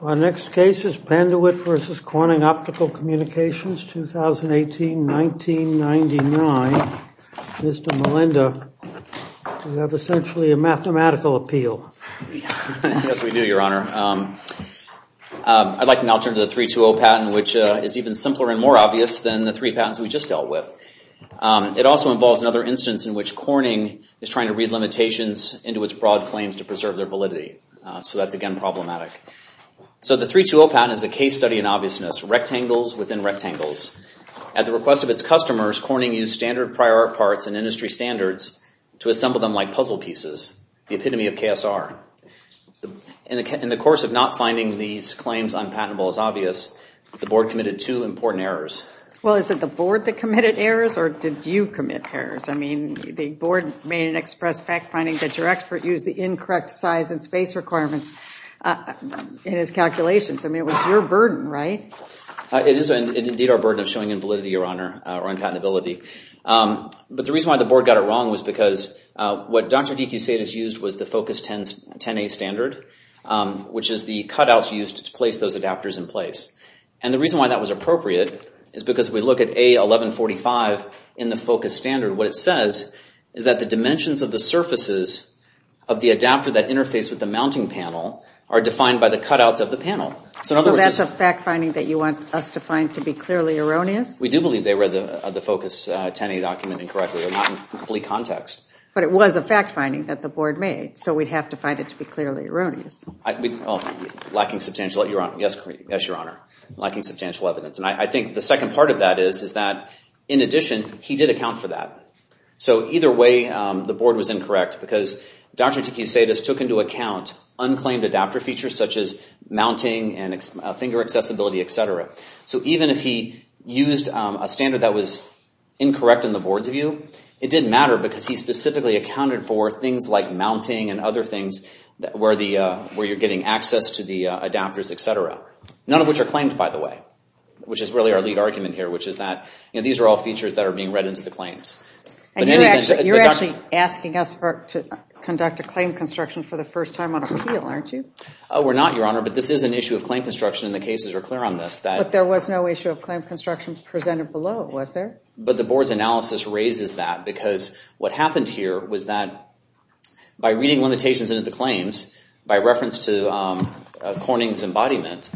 The next case is Panduit v. Corning Optical Communications. I'd like to now turn to the 3-2-0 patent, which is even simpler and more obvious than the three patents we just dealt with. It also involves another instance in which Corning is trying to read limitations into its broad claims to preserve their validity. So that's again problematic. So the 3-2-0 patent is a case study in obviousness. Rectangles within rectangles. At the request of its customers, Corning used standard prior art parts and industry standards to assemble them like puzzle pieces, the epitome of KSR. In the course of not finding these claims unpatentable as obvious, the board committed two important errors. Well, is it the board that committed errors, or did you commit errors? I mean, the board made an express fact finding that your expert used the incorrect size and in his calculations. I mean, it was your burden, right? It is indeed our burden of showing invalidity, Your Honor, or unpatentability. But the reason why the board got it wrong was because what Dr. DeCusade has used was the Focus 10A standard, which is the cutouts used to place those adapters in place. And the reason why that was appropriate is because if we look at A1145 in the Focus standard, what it says is that the dimensions of the surfaces of the adapter that interface with the mounting panel are defined by the cutouts of the panel. So that's a fact finding that you want us to find to be clearly erroneous? We do believe they read the Focus 10A document incorrectly or not in complete context. But it was a fact finding that the board made, so we'd have to find it to be clearly erroneous. Lacking substantial, yes, Your Honor. Lacking substantial evidence. And I think the second part of that is that, in addition, he did account for that. So either way, the board was incorrect because Dr. DeCusade has took into account unclaimed adapter features such as mounting and finger accessibility, et cetera. So even if he used a standard that was incorrect in the board's view, it didn't matter because he specifically accounted for things like mounting and other things where you're getting access to the adapters, et cetera, none of which are claimed, by the way, which is really our lead argument here, which is that these are all features that are being read into the claims. And you're actually asking us to conduct a claim construction for the first time on appeal, aren't you? We're not, Your Honor, but this is an issue of claim construction and the cases are clear on this. But there was no issue of claim construction presented below, was there? But the board's analysis raises that because what happened here was that by reading limitations into the claims, by reference to Corning's embodiment,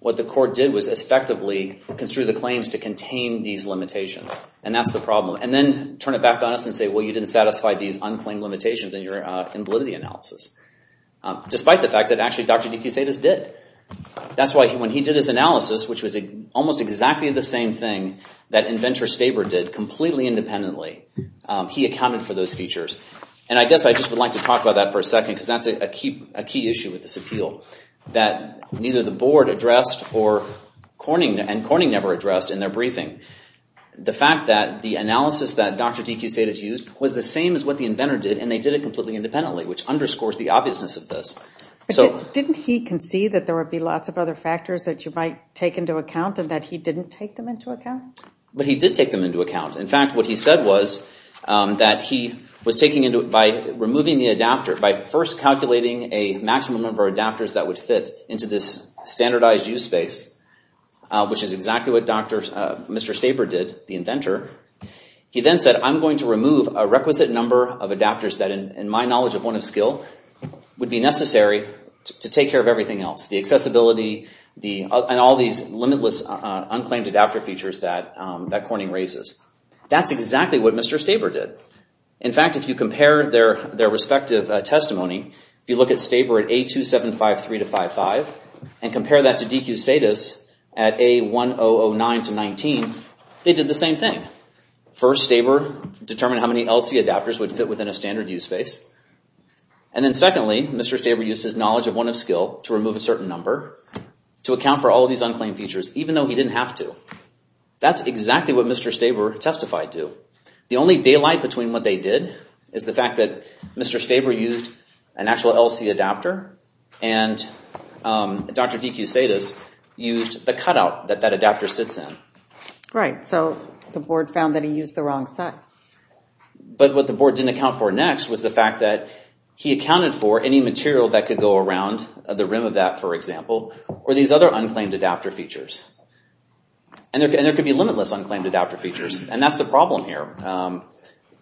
what the court did was effectively construe the claims to contain these limitations. And that's the problem. And then turn it back on us and say, well, you didn't satisfy these unclaimed limitations in your validity analysis, despite the fact that actually Dr. Nikusaitis did. That's why when he did his analysis, which was almost exactly the same thing that Inventor Staber did completely independently, he accounted for those features. And I guess I just would like to talk about that for a second because that's a key issue with this appeal that neither the board addressed or Corning, and Corning never addressed in their briefing. The fact that the analysis that Dr. Nikusaitis used was the same as what the inventor did and they did it completely independently, which underscores the obviousness of this. Didn't he concede that there would be lots of other factors that you might take into account and that he didn't take them into account? But he did take them into account. In fact, what he said was that he was taking into, by removing the adapter, by first calculating a maximum number of adapters that would fit into this standardized use space, which is what Mr. Staber did, the inventor, he then said, I'm going to remove a requisite number of adapters that in my knowledge of one of skill, would be necessary to take care of everything else. The accessibility and all these limitless unclaimed adapter features that Corning raises. That's exactly what Mr. Staber did. In fact, if you compare their respective testimony, if you look at Staber at A2753-55 and compare that to DeCusades at A1009-19, they did the same thing. First Staber determined how many LC adapters would fit within a standard use space. And then secondly, Mr. Staber used his knowledge of one of skill to remove a certain number to account for all of these unclaimed features, even though he didn't have to. That's exactly what Mr. Staber testified to. The only daylight between what they did is the fact that Mr. Staber used an actual LC adapter and Dr. DeCusades used the cutout that that adapter sits in. Right. So the board found that he used the wrong size. But what the board didn't account for next was the fact that he accounted for any material that could go around the rim of that, for example, or these other unclaimed adapter features. And there could be limitless unclaimed adapter features. And that's the problem here.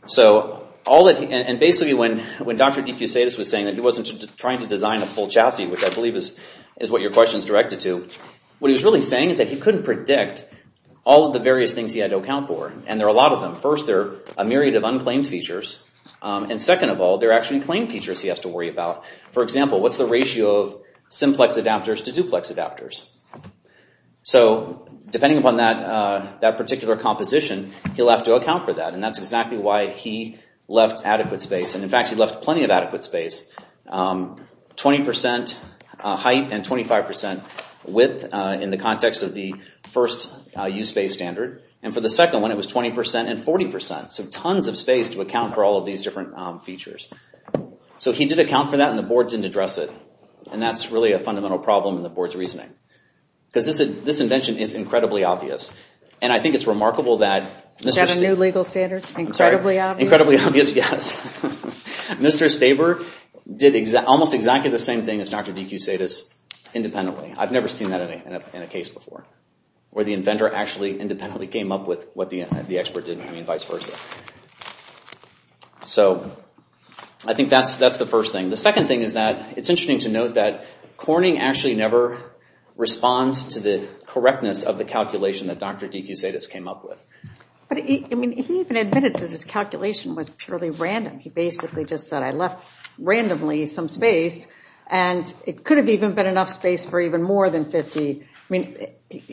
So basically when Dr. DeCusades was saying that he wasn't trying to design a full chassis, which I believe is what your question is directed to, what he was really saying is that he couldn't predict all of the various things he had to account for. And there are a lot of them. First, there are a myriad of unclaimed features. And second of all, there are actually claim features he has to worry about. For example, what's the ratio of simplex adapters to duplex adapters? So depending upon that particular composition, he'll have to account for that. And that's exactly why he left adequate space. And in fact, he left plenty of adequate space. 20% height and 25% width in the context of the first use space standard. And for the second one, it was 20% and 40%. So tons of space to account for all of these different features. So he did account for that, and the board didn't address it. And that's really a fundamental problem in the board's reasoning. Because this invention is incredibly obvious. And I think it's remarkable that... Is that a new legal standard? Incredibly obvious? Incredibly obvious, yes. Mr. Staber did almost exactly the same thing as Dr. DeCusades independently. I've never seen that in a case before, where the inventor actually independently came up with what the expert did, and vice versa. So I think that's the first thing. The second thing is that it's interesting to note that Corning actually never responds to the correctness of the calculation that Dr. DeCusades came up with. But he even admitted that his calculation was purely random. He basically just said, I left randomly some space, and it could have even been enough space for even more than 50.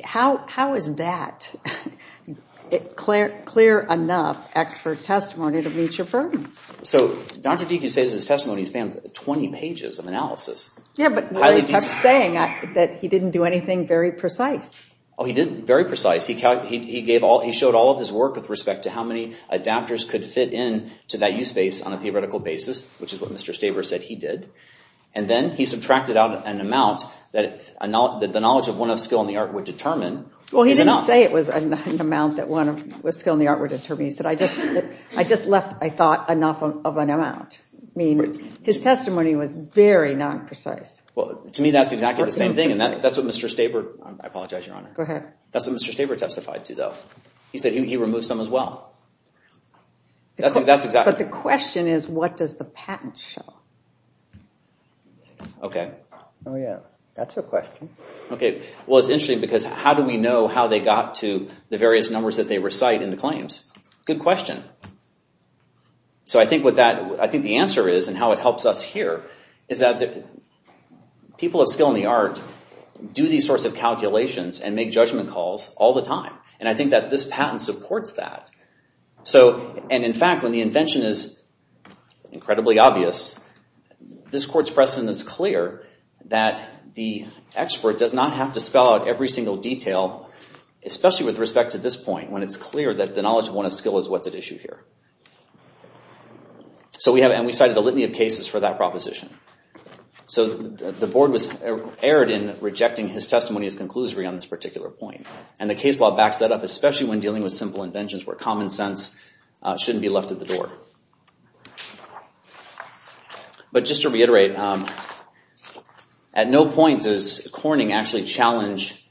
How is that clear enough expert testimony to meet your burden? So Dr. DeCusades' testimony spans 20 pages of analysis. Yeah, but he kept saying that he didn't do anything very precise. Oh, he did very precise. He showed all of his work with respect to how many adapters could fit in to that use space on a theoretical basis, which is what Mr. Staber said he did. And then he subtracted out an amount that the knowledge of one of skill and the art would determine. Well, he didn't say it was an amount that one of skill and the art would determine. He said, I just left, I thought, enough of an amount. I mean, his testimony was very non-precise. Well, to me, that's exactly the same thing. And that's what Mr. Staber, I apologize, Your Honor. Go ahead. That's what Mr. Staber testified to, though. He said he removed some as well. But the question is, what does the patent show? OK. Oh, yeah. That's a question. OK. Well, it's interesting, because how do we know how they got to the various numbers that they recite in the claims? Good question. So I think the answer is, and how it helps us here, is that people of skill and the art do these sorts of calculations and make judgment calls all the time. And I think that this patent supports that. And in fact, when the invention is incredibly obvious, this court's precedent is clear that the expert does not have to spell out every single detail, especially with respect to this point, when it's clear that the knowledge of one of skill is what's at issue here. And we cited a litany of cases for that proposition. So the board was erred in rejecting his testimony as conclusory on this particular point. And the case law backs that up, especially when dealing with simple inventions where common sense shouldn't be left at the door. But just to reiterate, at no point does Corning actually challenge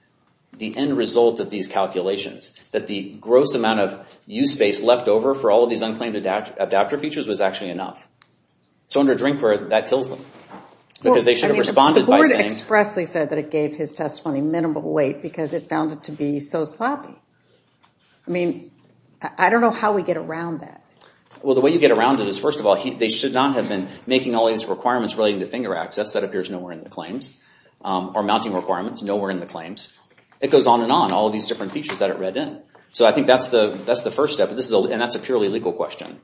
the end result of these calculations, that the gross amount of use space left over for all of these unclaimed adapter features was actually enough. So under Drinkware, that kills them, because they should have responded by saying— The board expressly said that it gave his testimony minimal weight because it found it to be so sloppy. I mean, I don't know how we get around that. Well, the way you get around it is, first of all, they should not have been making all these requirements relating to finger access that appears nowhere in the claims, or mounting requirements nowhere in the claims. It goes on and on, all these different features that it read in. So I think that's the first step, and that's a purely legal question.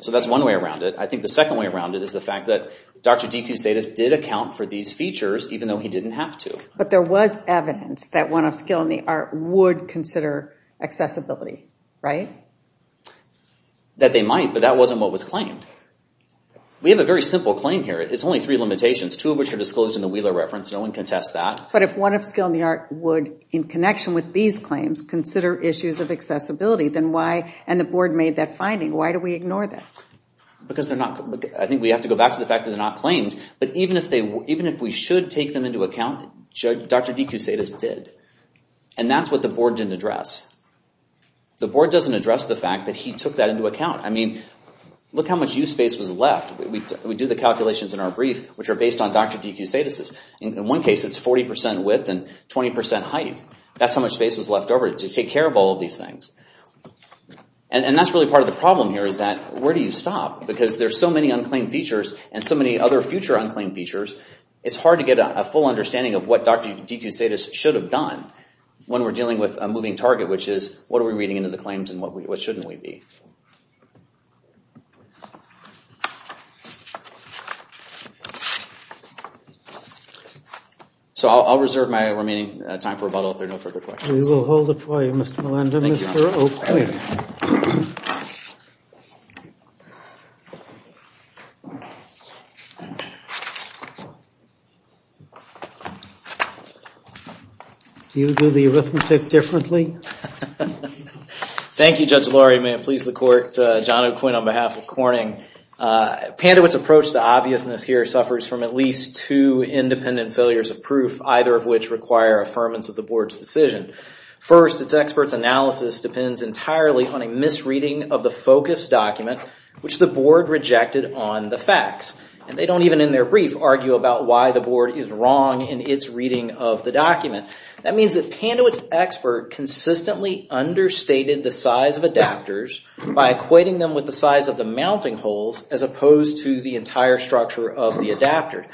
So that's one way around it. I think the second way around it is the fact that Dr. DeCusadas did account for these features, even though he didn't have to. But there was evidence that one of skill in the art would consider accessibility, right? That they might, but that wasn't what was claimed. We have a very simple claim here. It's only three limitations, two of which are disclosed in the Wheeler reference. No one can test that. But if one of skill in the art would, in connection with these claims, consider issues of accessibility, then why— And the board made that finding. Why do we ignore that? Because they're not— I think we have to go back to the fact that they're not claimed. But even if we should take them into account, Dr. DeCusadas did. And that's what the board didn't address. The board doesn't address the fact that he took that into account. I mean, look how much use space was left. We do the calculations in our brief, which are based on Dr. DeCusadas'. In one case, it's 40% width and 20% height. That's how much space was left over to take care of all of these things. And that's really part of the problem here, is that where do you stop? Because there's so many unclaimed features and so many other future unclaimed features, it's hard to get a full understanding of what Dr. DeCusadas should have done when we're dealing with a moving target, which is, what are we reading into the claims and what shouldn't we be? So I'll reserve my remaining time for rebuttal if there are no further questions. We will hold it for you, Mr. Melendez. Thank you. Mr. Oakley. Thank you. Do you do the arithmetic differently? Thank you, Judge Laurie. May it please the court, John O'Quinn on behalf of Corning. Pandewitt's approach to obviousness here suffers from at least two independent failures of proof, either of which require affirmance of the board's decision. First, its expert's analysis depends entirely on a misreading of the focus document, which the board rejected on the facts. And they don't even, in their brief, argue about why the board is wrong in its reading of the document. That means that Pandewitt's expert consistently understated the size of adapters by equating them with the size of the mounting holes, as opposed to the entire structure of the adapter.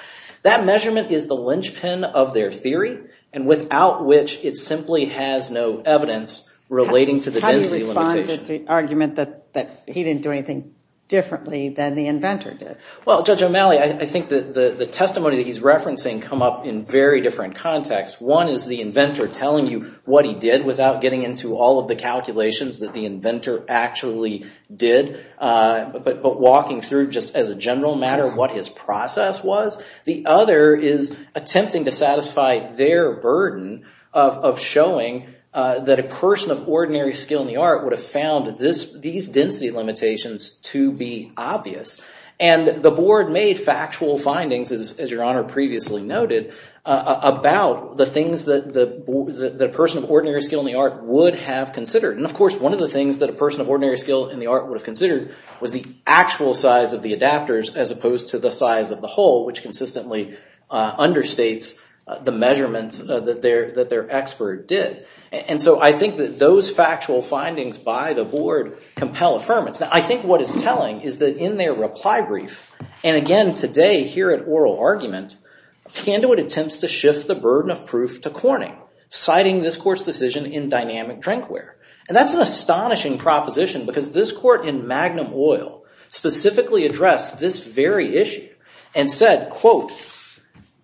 That measurement is the linchpin of their theory, and without which it simply has no evidence relating to the density limitation. How do you respond to the argument that he didn't do anything differently than the inventor did? Well, Judge O'Malley, I think the testimony that he's referencing come up in very different contexts. One is the inventor telling you what he did without getting into all of the calculations that the inventor actually did, but walking through just as a general matter what his process was. The other is attempting to satisfy their burden of showing that a person of ordinary skill in the art would have found these density limitations to be obvious. And the board made factual findings, as Your Honor previously noted, about the things that a person of ordinary skill in the art would have considered. And of course, one of the things that a person of ordinary skill in the art would have considered was the actual size of the adapters as opposed to the size of the hole, which consistently understates the measurements that their expert did. And so I think that those factual findings by the board compel affirmance. Now, I think what it's telling is that in their reply brief, and again today here at oral argument, Candewitt attempts to shift the burden of proof to Corning, citing this court's decision in dynamic drinkware. And that's an astonishing proposition because this court in Magnum Oil specifically addressed this very issue and said, quote,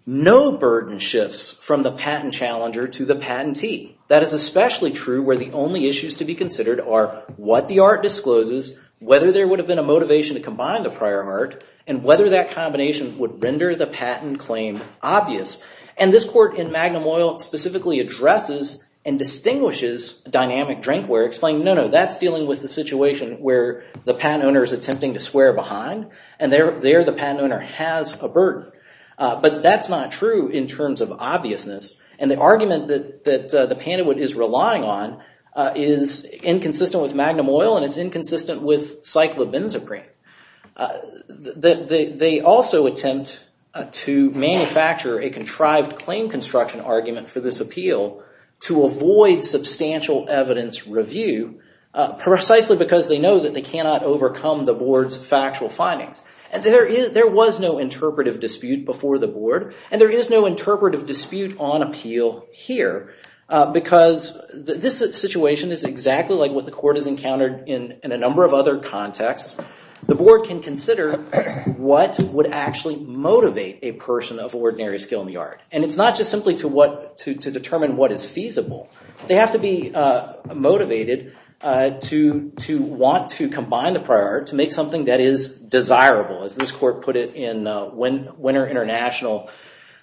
no burden shifts from the patent challenger to the patentee. That is especially true where the only issues to be considered are what the art discloses, whether there would have been a motivation to combine the prior art, and whether that combination would render the patent claim obvious. And this court in Magnum Oil specifically addresses and distinguishes dynamic drinkware, explaining no, no, that's dealing with the situation where the patent owner is attempting to swear behind, and there the patent owner has a burden. But that's not true in terms of obviousness. And the argument that the Pandewitt is relying on is inconsistent with Magnum Oil, and it's inconsistent with cyclobenzaprine. They also attempt to manufacture a contrived claim construction argument for this appeal to avoid substantial evidence review, precisely because they know that they cannot overcome the board's factual findings. And there was no interpretive dispute before the board, and there is no interpretive dispute on appeal here because this situation is exactly like what the court has encountered in a number of other contexts. The board can consider what would actually motivate a person of ordinary skill in the art. And it's not just simply to determine what is feasible. They have to be motivated to want to combine the prior to make something that is desirable, as this court put it in Winner International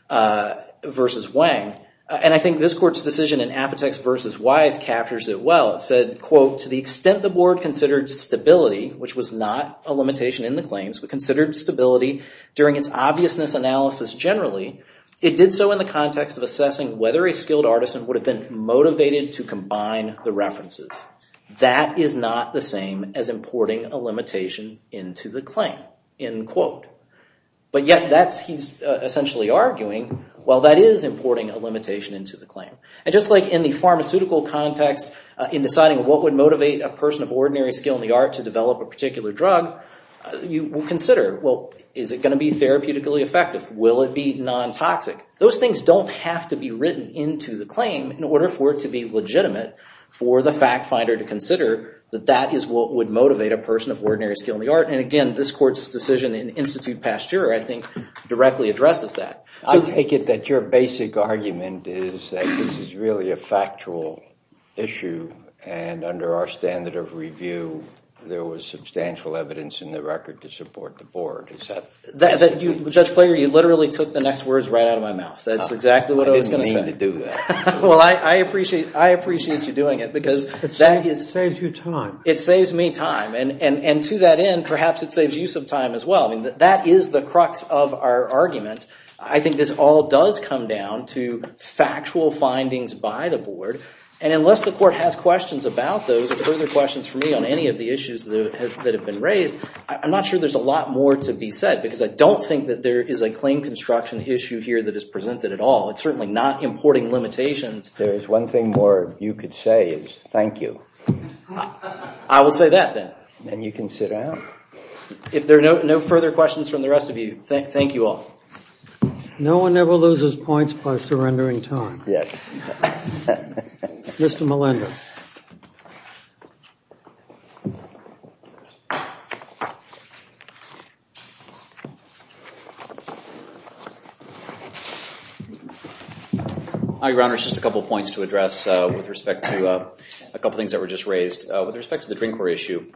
v. Wang. And I think this court's decision in Apotex v. Wythe captures it well. It said, quote, to the extent the board considered stability, which was not a limitation in the claims, but considered stability during its obviousness analysis generally, it did so in the context of assessing whether a skilled artisan would have been motivated to combine the references. That is not the same as importing a limitation into the claim, end quote. But yet, he's essentially arguing, well, that is importing a limitation into the claim. And just like in the pharmaceutical context, in deciding what would motivate a person of ordinary skill in the art to develop a particular drug, you will consider, well, is it going to be therapeutically effective? Will it be nontoxic? Those things don't have to be written into the claim in order for it to be legitimate for the fact finder to consider that that is what would motivate a person of ordinary skill in the art. And again, this court's decision in Institute Pasteur, I think, directly addresses that. I take it that your basic argument is that this is really a factual issue. And under our standard of review, there was substantial evidence in the record to support the board. Judge Plager, you literally took the next words right out of my mouth. That's exactly what I was going to say. I didn't mean to do that. Well, I appreciate you doing it. It saves you time. It saves me time. And to that end, perhaps it saves you some time as well. That is the crux of our argument. I think this all does come down to factual findings by the board. And unless the court has questions about those or further questions for me on any of the issues that have been raised, I'm not sure there's a lot more to be said. Because I don't think that there is a claim construction issue here that is presented at all. It's certainly not importing limitations. There is one thing more you could say is thank you. I will say that then. And you can sit down. If there are no further questions from the rest of you, thank you all. No one ever loses points by surrendering time. Yes. Mr. Millender. Hi, Your Honors. Just a couple points to address with respect to a couple things that were just raised. With respect to the drinkware issue,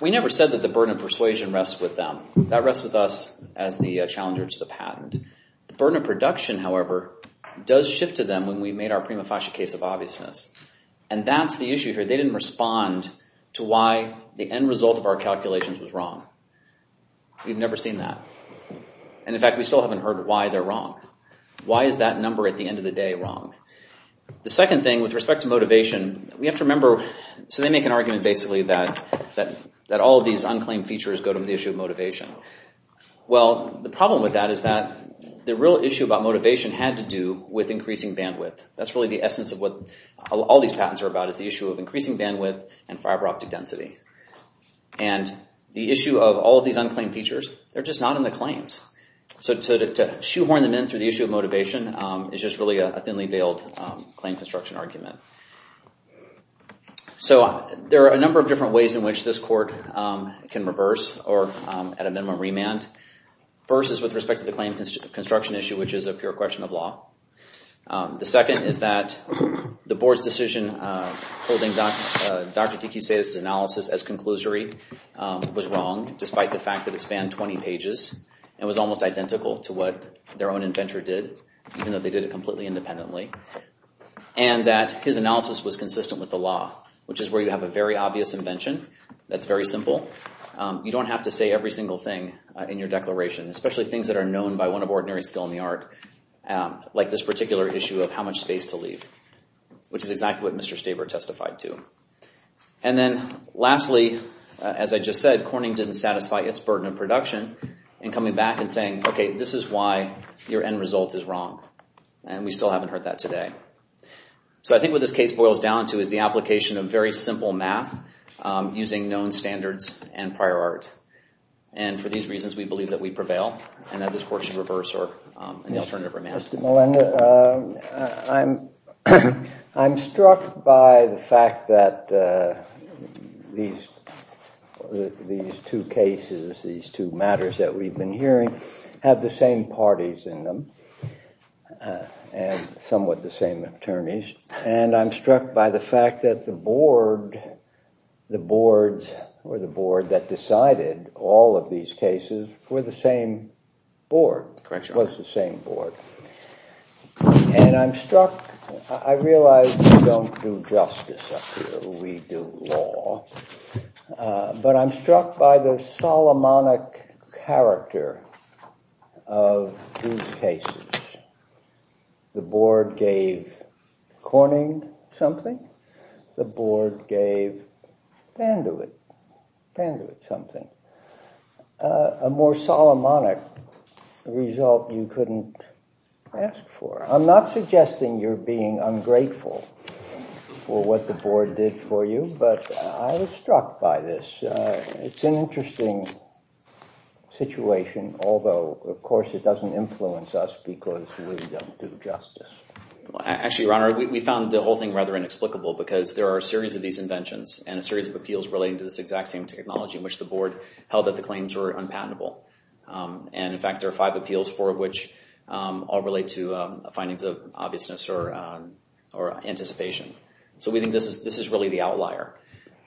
we never said that the burden of persuasion rests with them. That rests with us as the challenger to the patent. The burden of production, however, does shift to them when we made our prima facie case of obviousness. And that's the issue here. They didn't respond to why the end result of our calculations was wrong. We've never seen that. And, in fact, we still haven't heard why they're wrong. Why is that number at the end of the day wrong? The second thing with respect to motivation, we have to remember. So they make an argument basically that all of these unclaimed features go to the issue of motivation. Well, the problem with that is that the real issue about motivation had to do with increasing bandwidth. That's really the essence of what all these patents are about is the issue of increasing bandwidth and fiber optic density. And the issue of all of these unclaimed features, they're just not in the claims. So to shoehorn them in through the issue of motivation is just really a thinly veiled claim construction argument. So there are a number of different ways in which this court can reverse or, at a minimum, remand. First is with respect to the claim construction issue, which is a pure question of law. The second is that the board's decision holding Dr. DeCussetis' analysis as conclusory was wrong, despite the fact that it spanned 20 pages and was almost identical to what their own inventor did, even though they did it completely independently. And that his analysis was consistent with the law, which is where you have a very obvious invention that's very simple. You don't have to say every single thing in your declaration, especially things that are known by one of ordinary skill in the art, like this particular issue of how much space to leave, which is exactly what Mr. Staber testified to. And then lastly, as I just said, Corning didn't satisfy its burden of production in coming back and saying, OK, this is why your end result is wrong. And we still haven't heard that today. So I think what this case boils down to is the application of very simple math using known standards and prior art. And for these reasons, we believe that we prevail and that this court should reverse or, in the alternative, remand. Mr. Melendez, I'm struck by the fact that these two cases, these two matters that we've been hearing, have the same parties in them and somewhat the same attorneys. And I'm struck by the fact that the board, the boards or the board that decided all of these cases were the same board. It was the same board. And I'm struck. I realize we don't do justice up here. We do law. But I'm struck by the Solomonic character of these cases. The board gave Corning something. The board gave Bandewidth something. A more Solomonic result you couldn't ask for. I'm not suggesting you're being ungrateful for what the board did for you, but I was struck by this. It's an interesting situation, although, of course, it doesn't influence us because we don't do justice. Actually, Your Honor, we found the whole thing rather inexplicable because there are a series of these inventions and a series of appeals relating to this exact same technology in which the board held that the claims were unpatentable. And, in fact, there are five appeals, four of which all relate to findings of obviousness or anticipation. So we think this is really the outlier.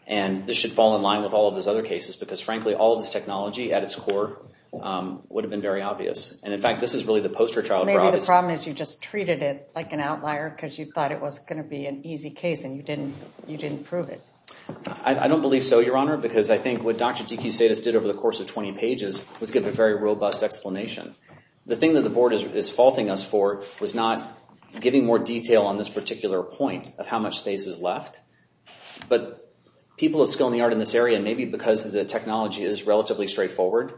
And this should fall in line with all of those other cases because, frankly, all of this technology at its core would have been very obvious. And, in fact, this is really the poster child. Well, maybe the problem is you just treated it like an outlier because you thought it was going to be an easy case and you didn't prove it. I don't believe so, Your Honor, because I think what Dr. DeCusadis did over the course of 20 pages was give a very robust explanation. The thing that the board is faulting us for was not giving more detail on this particular point of how much space is left. But people of skill and the art in this area, maybe because the technology is relatively straightforward,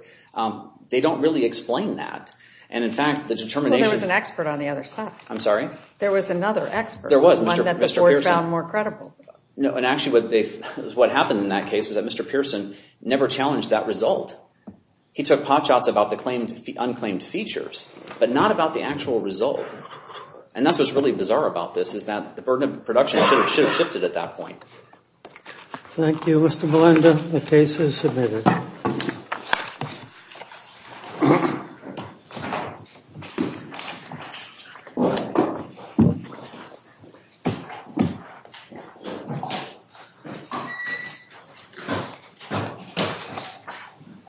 they don't really explain that. And, in fact, the determination... Well, there was an expert on the other side. I'm sorry? There was another expert. There was, Mr. Pearson. One that the board found more credible. No, and actually what happened in that case was that Mr. Pearson never challenged that result. He took pot shots about the unclaimed features, but not about the actual result. And that's what's really bizarre about this is that the burden of production should have shifted at that point. Thank you, Mr. Melinda. The case is submitted.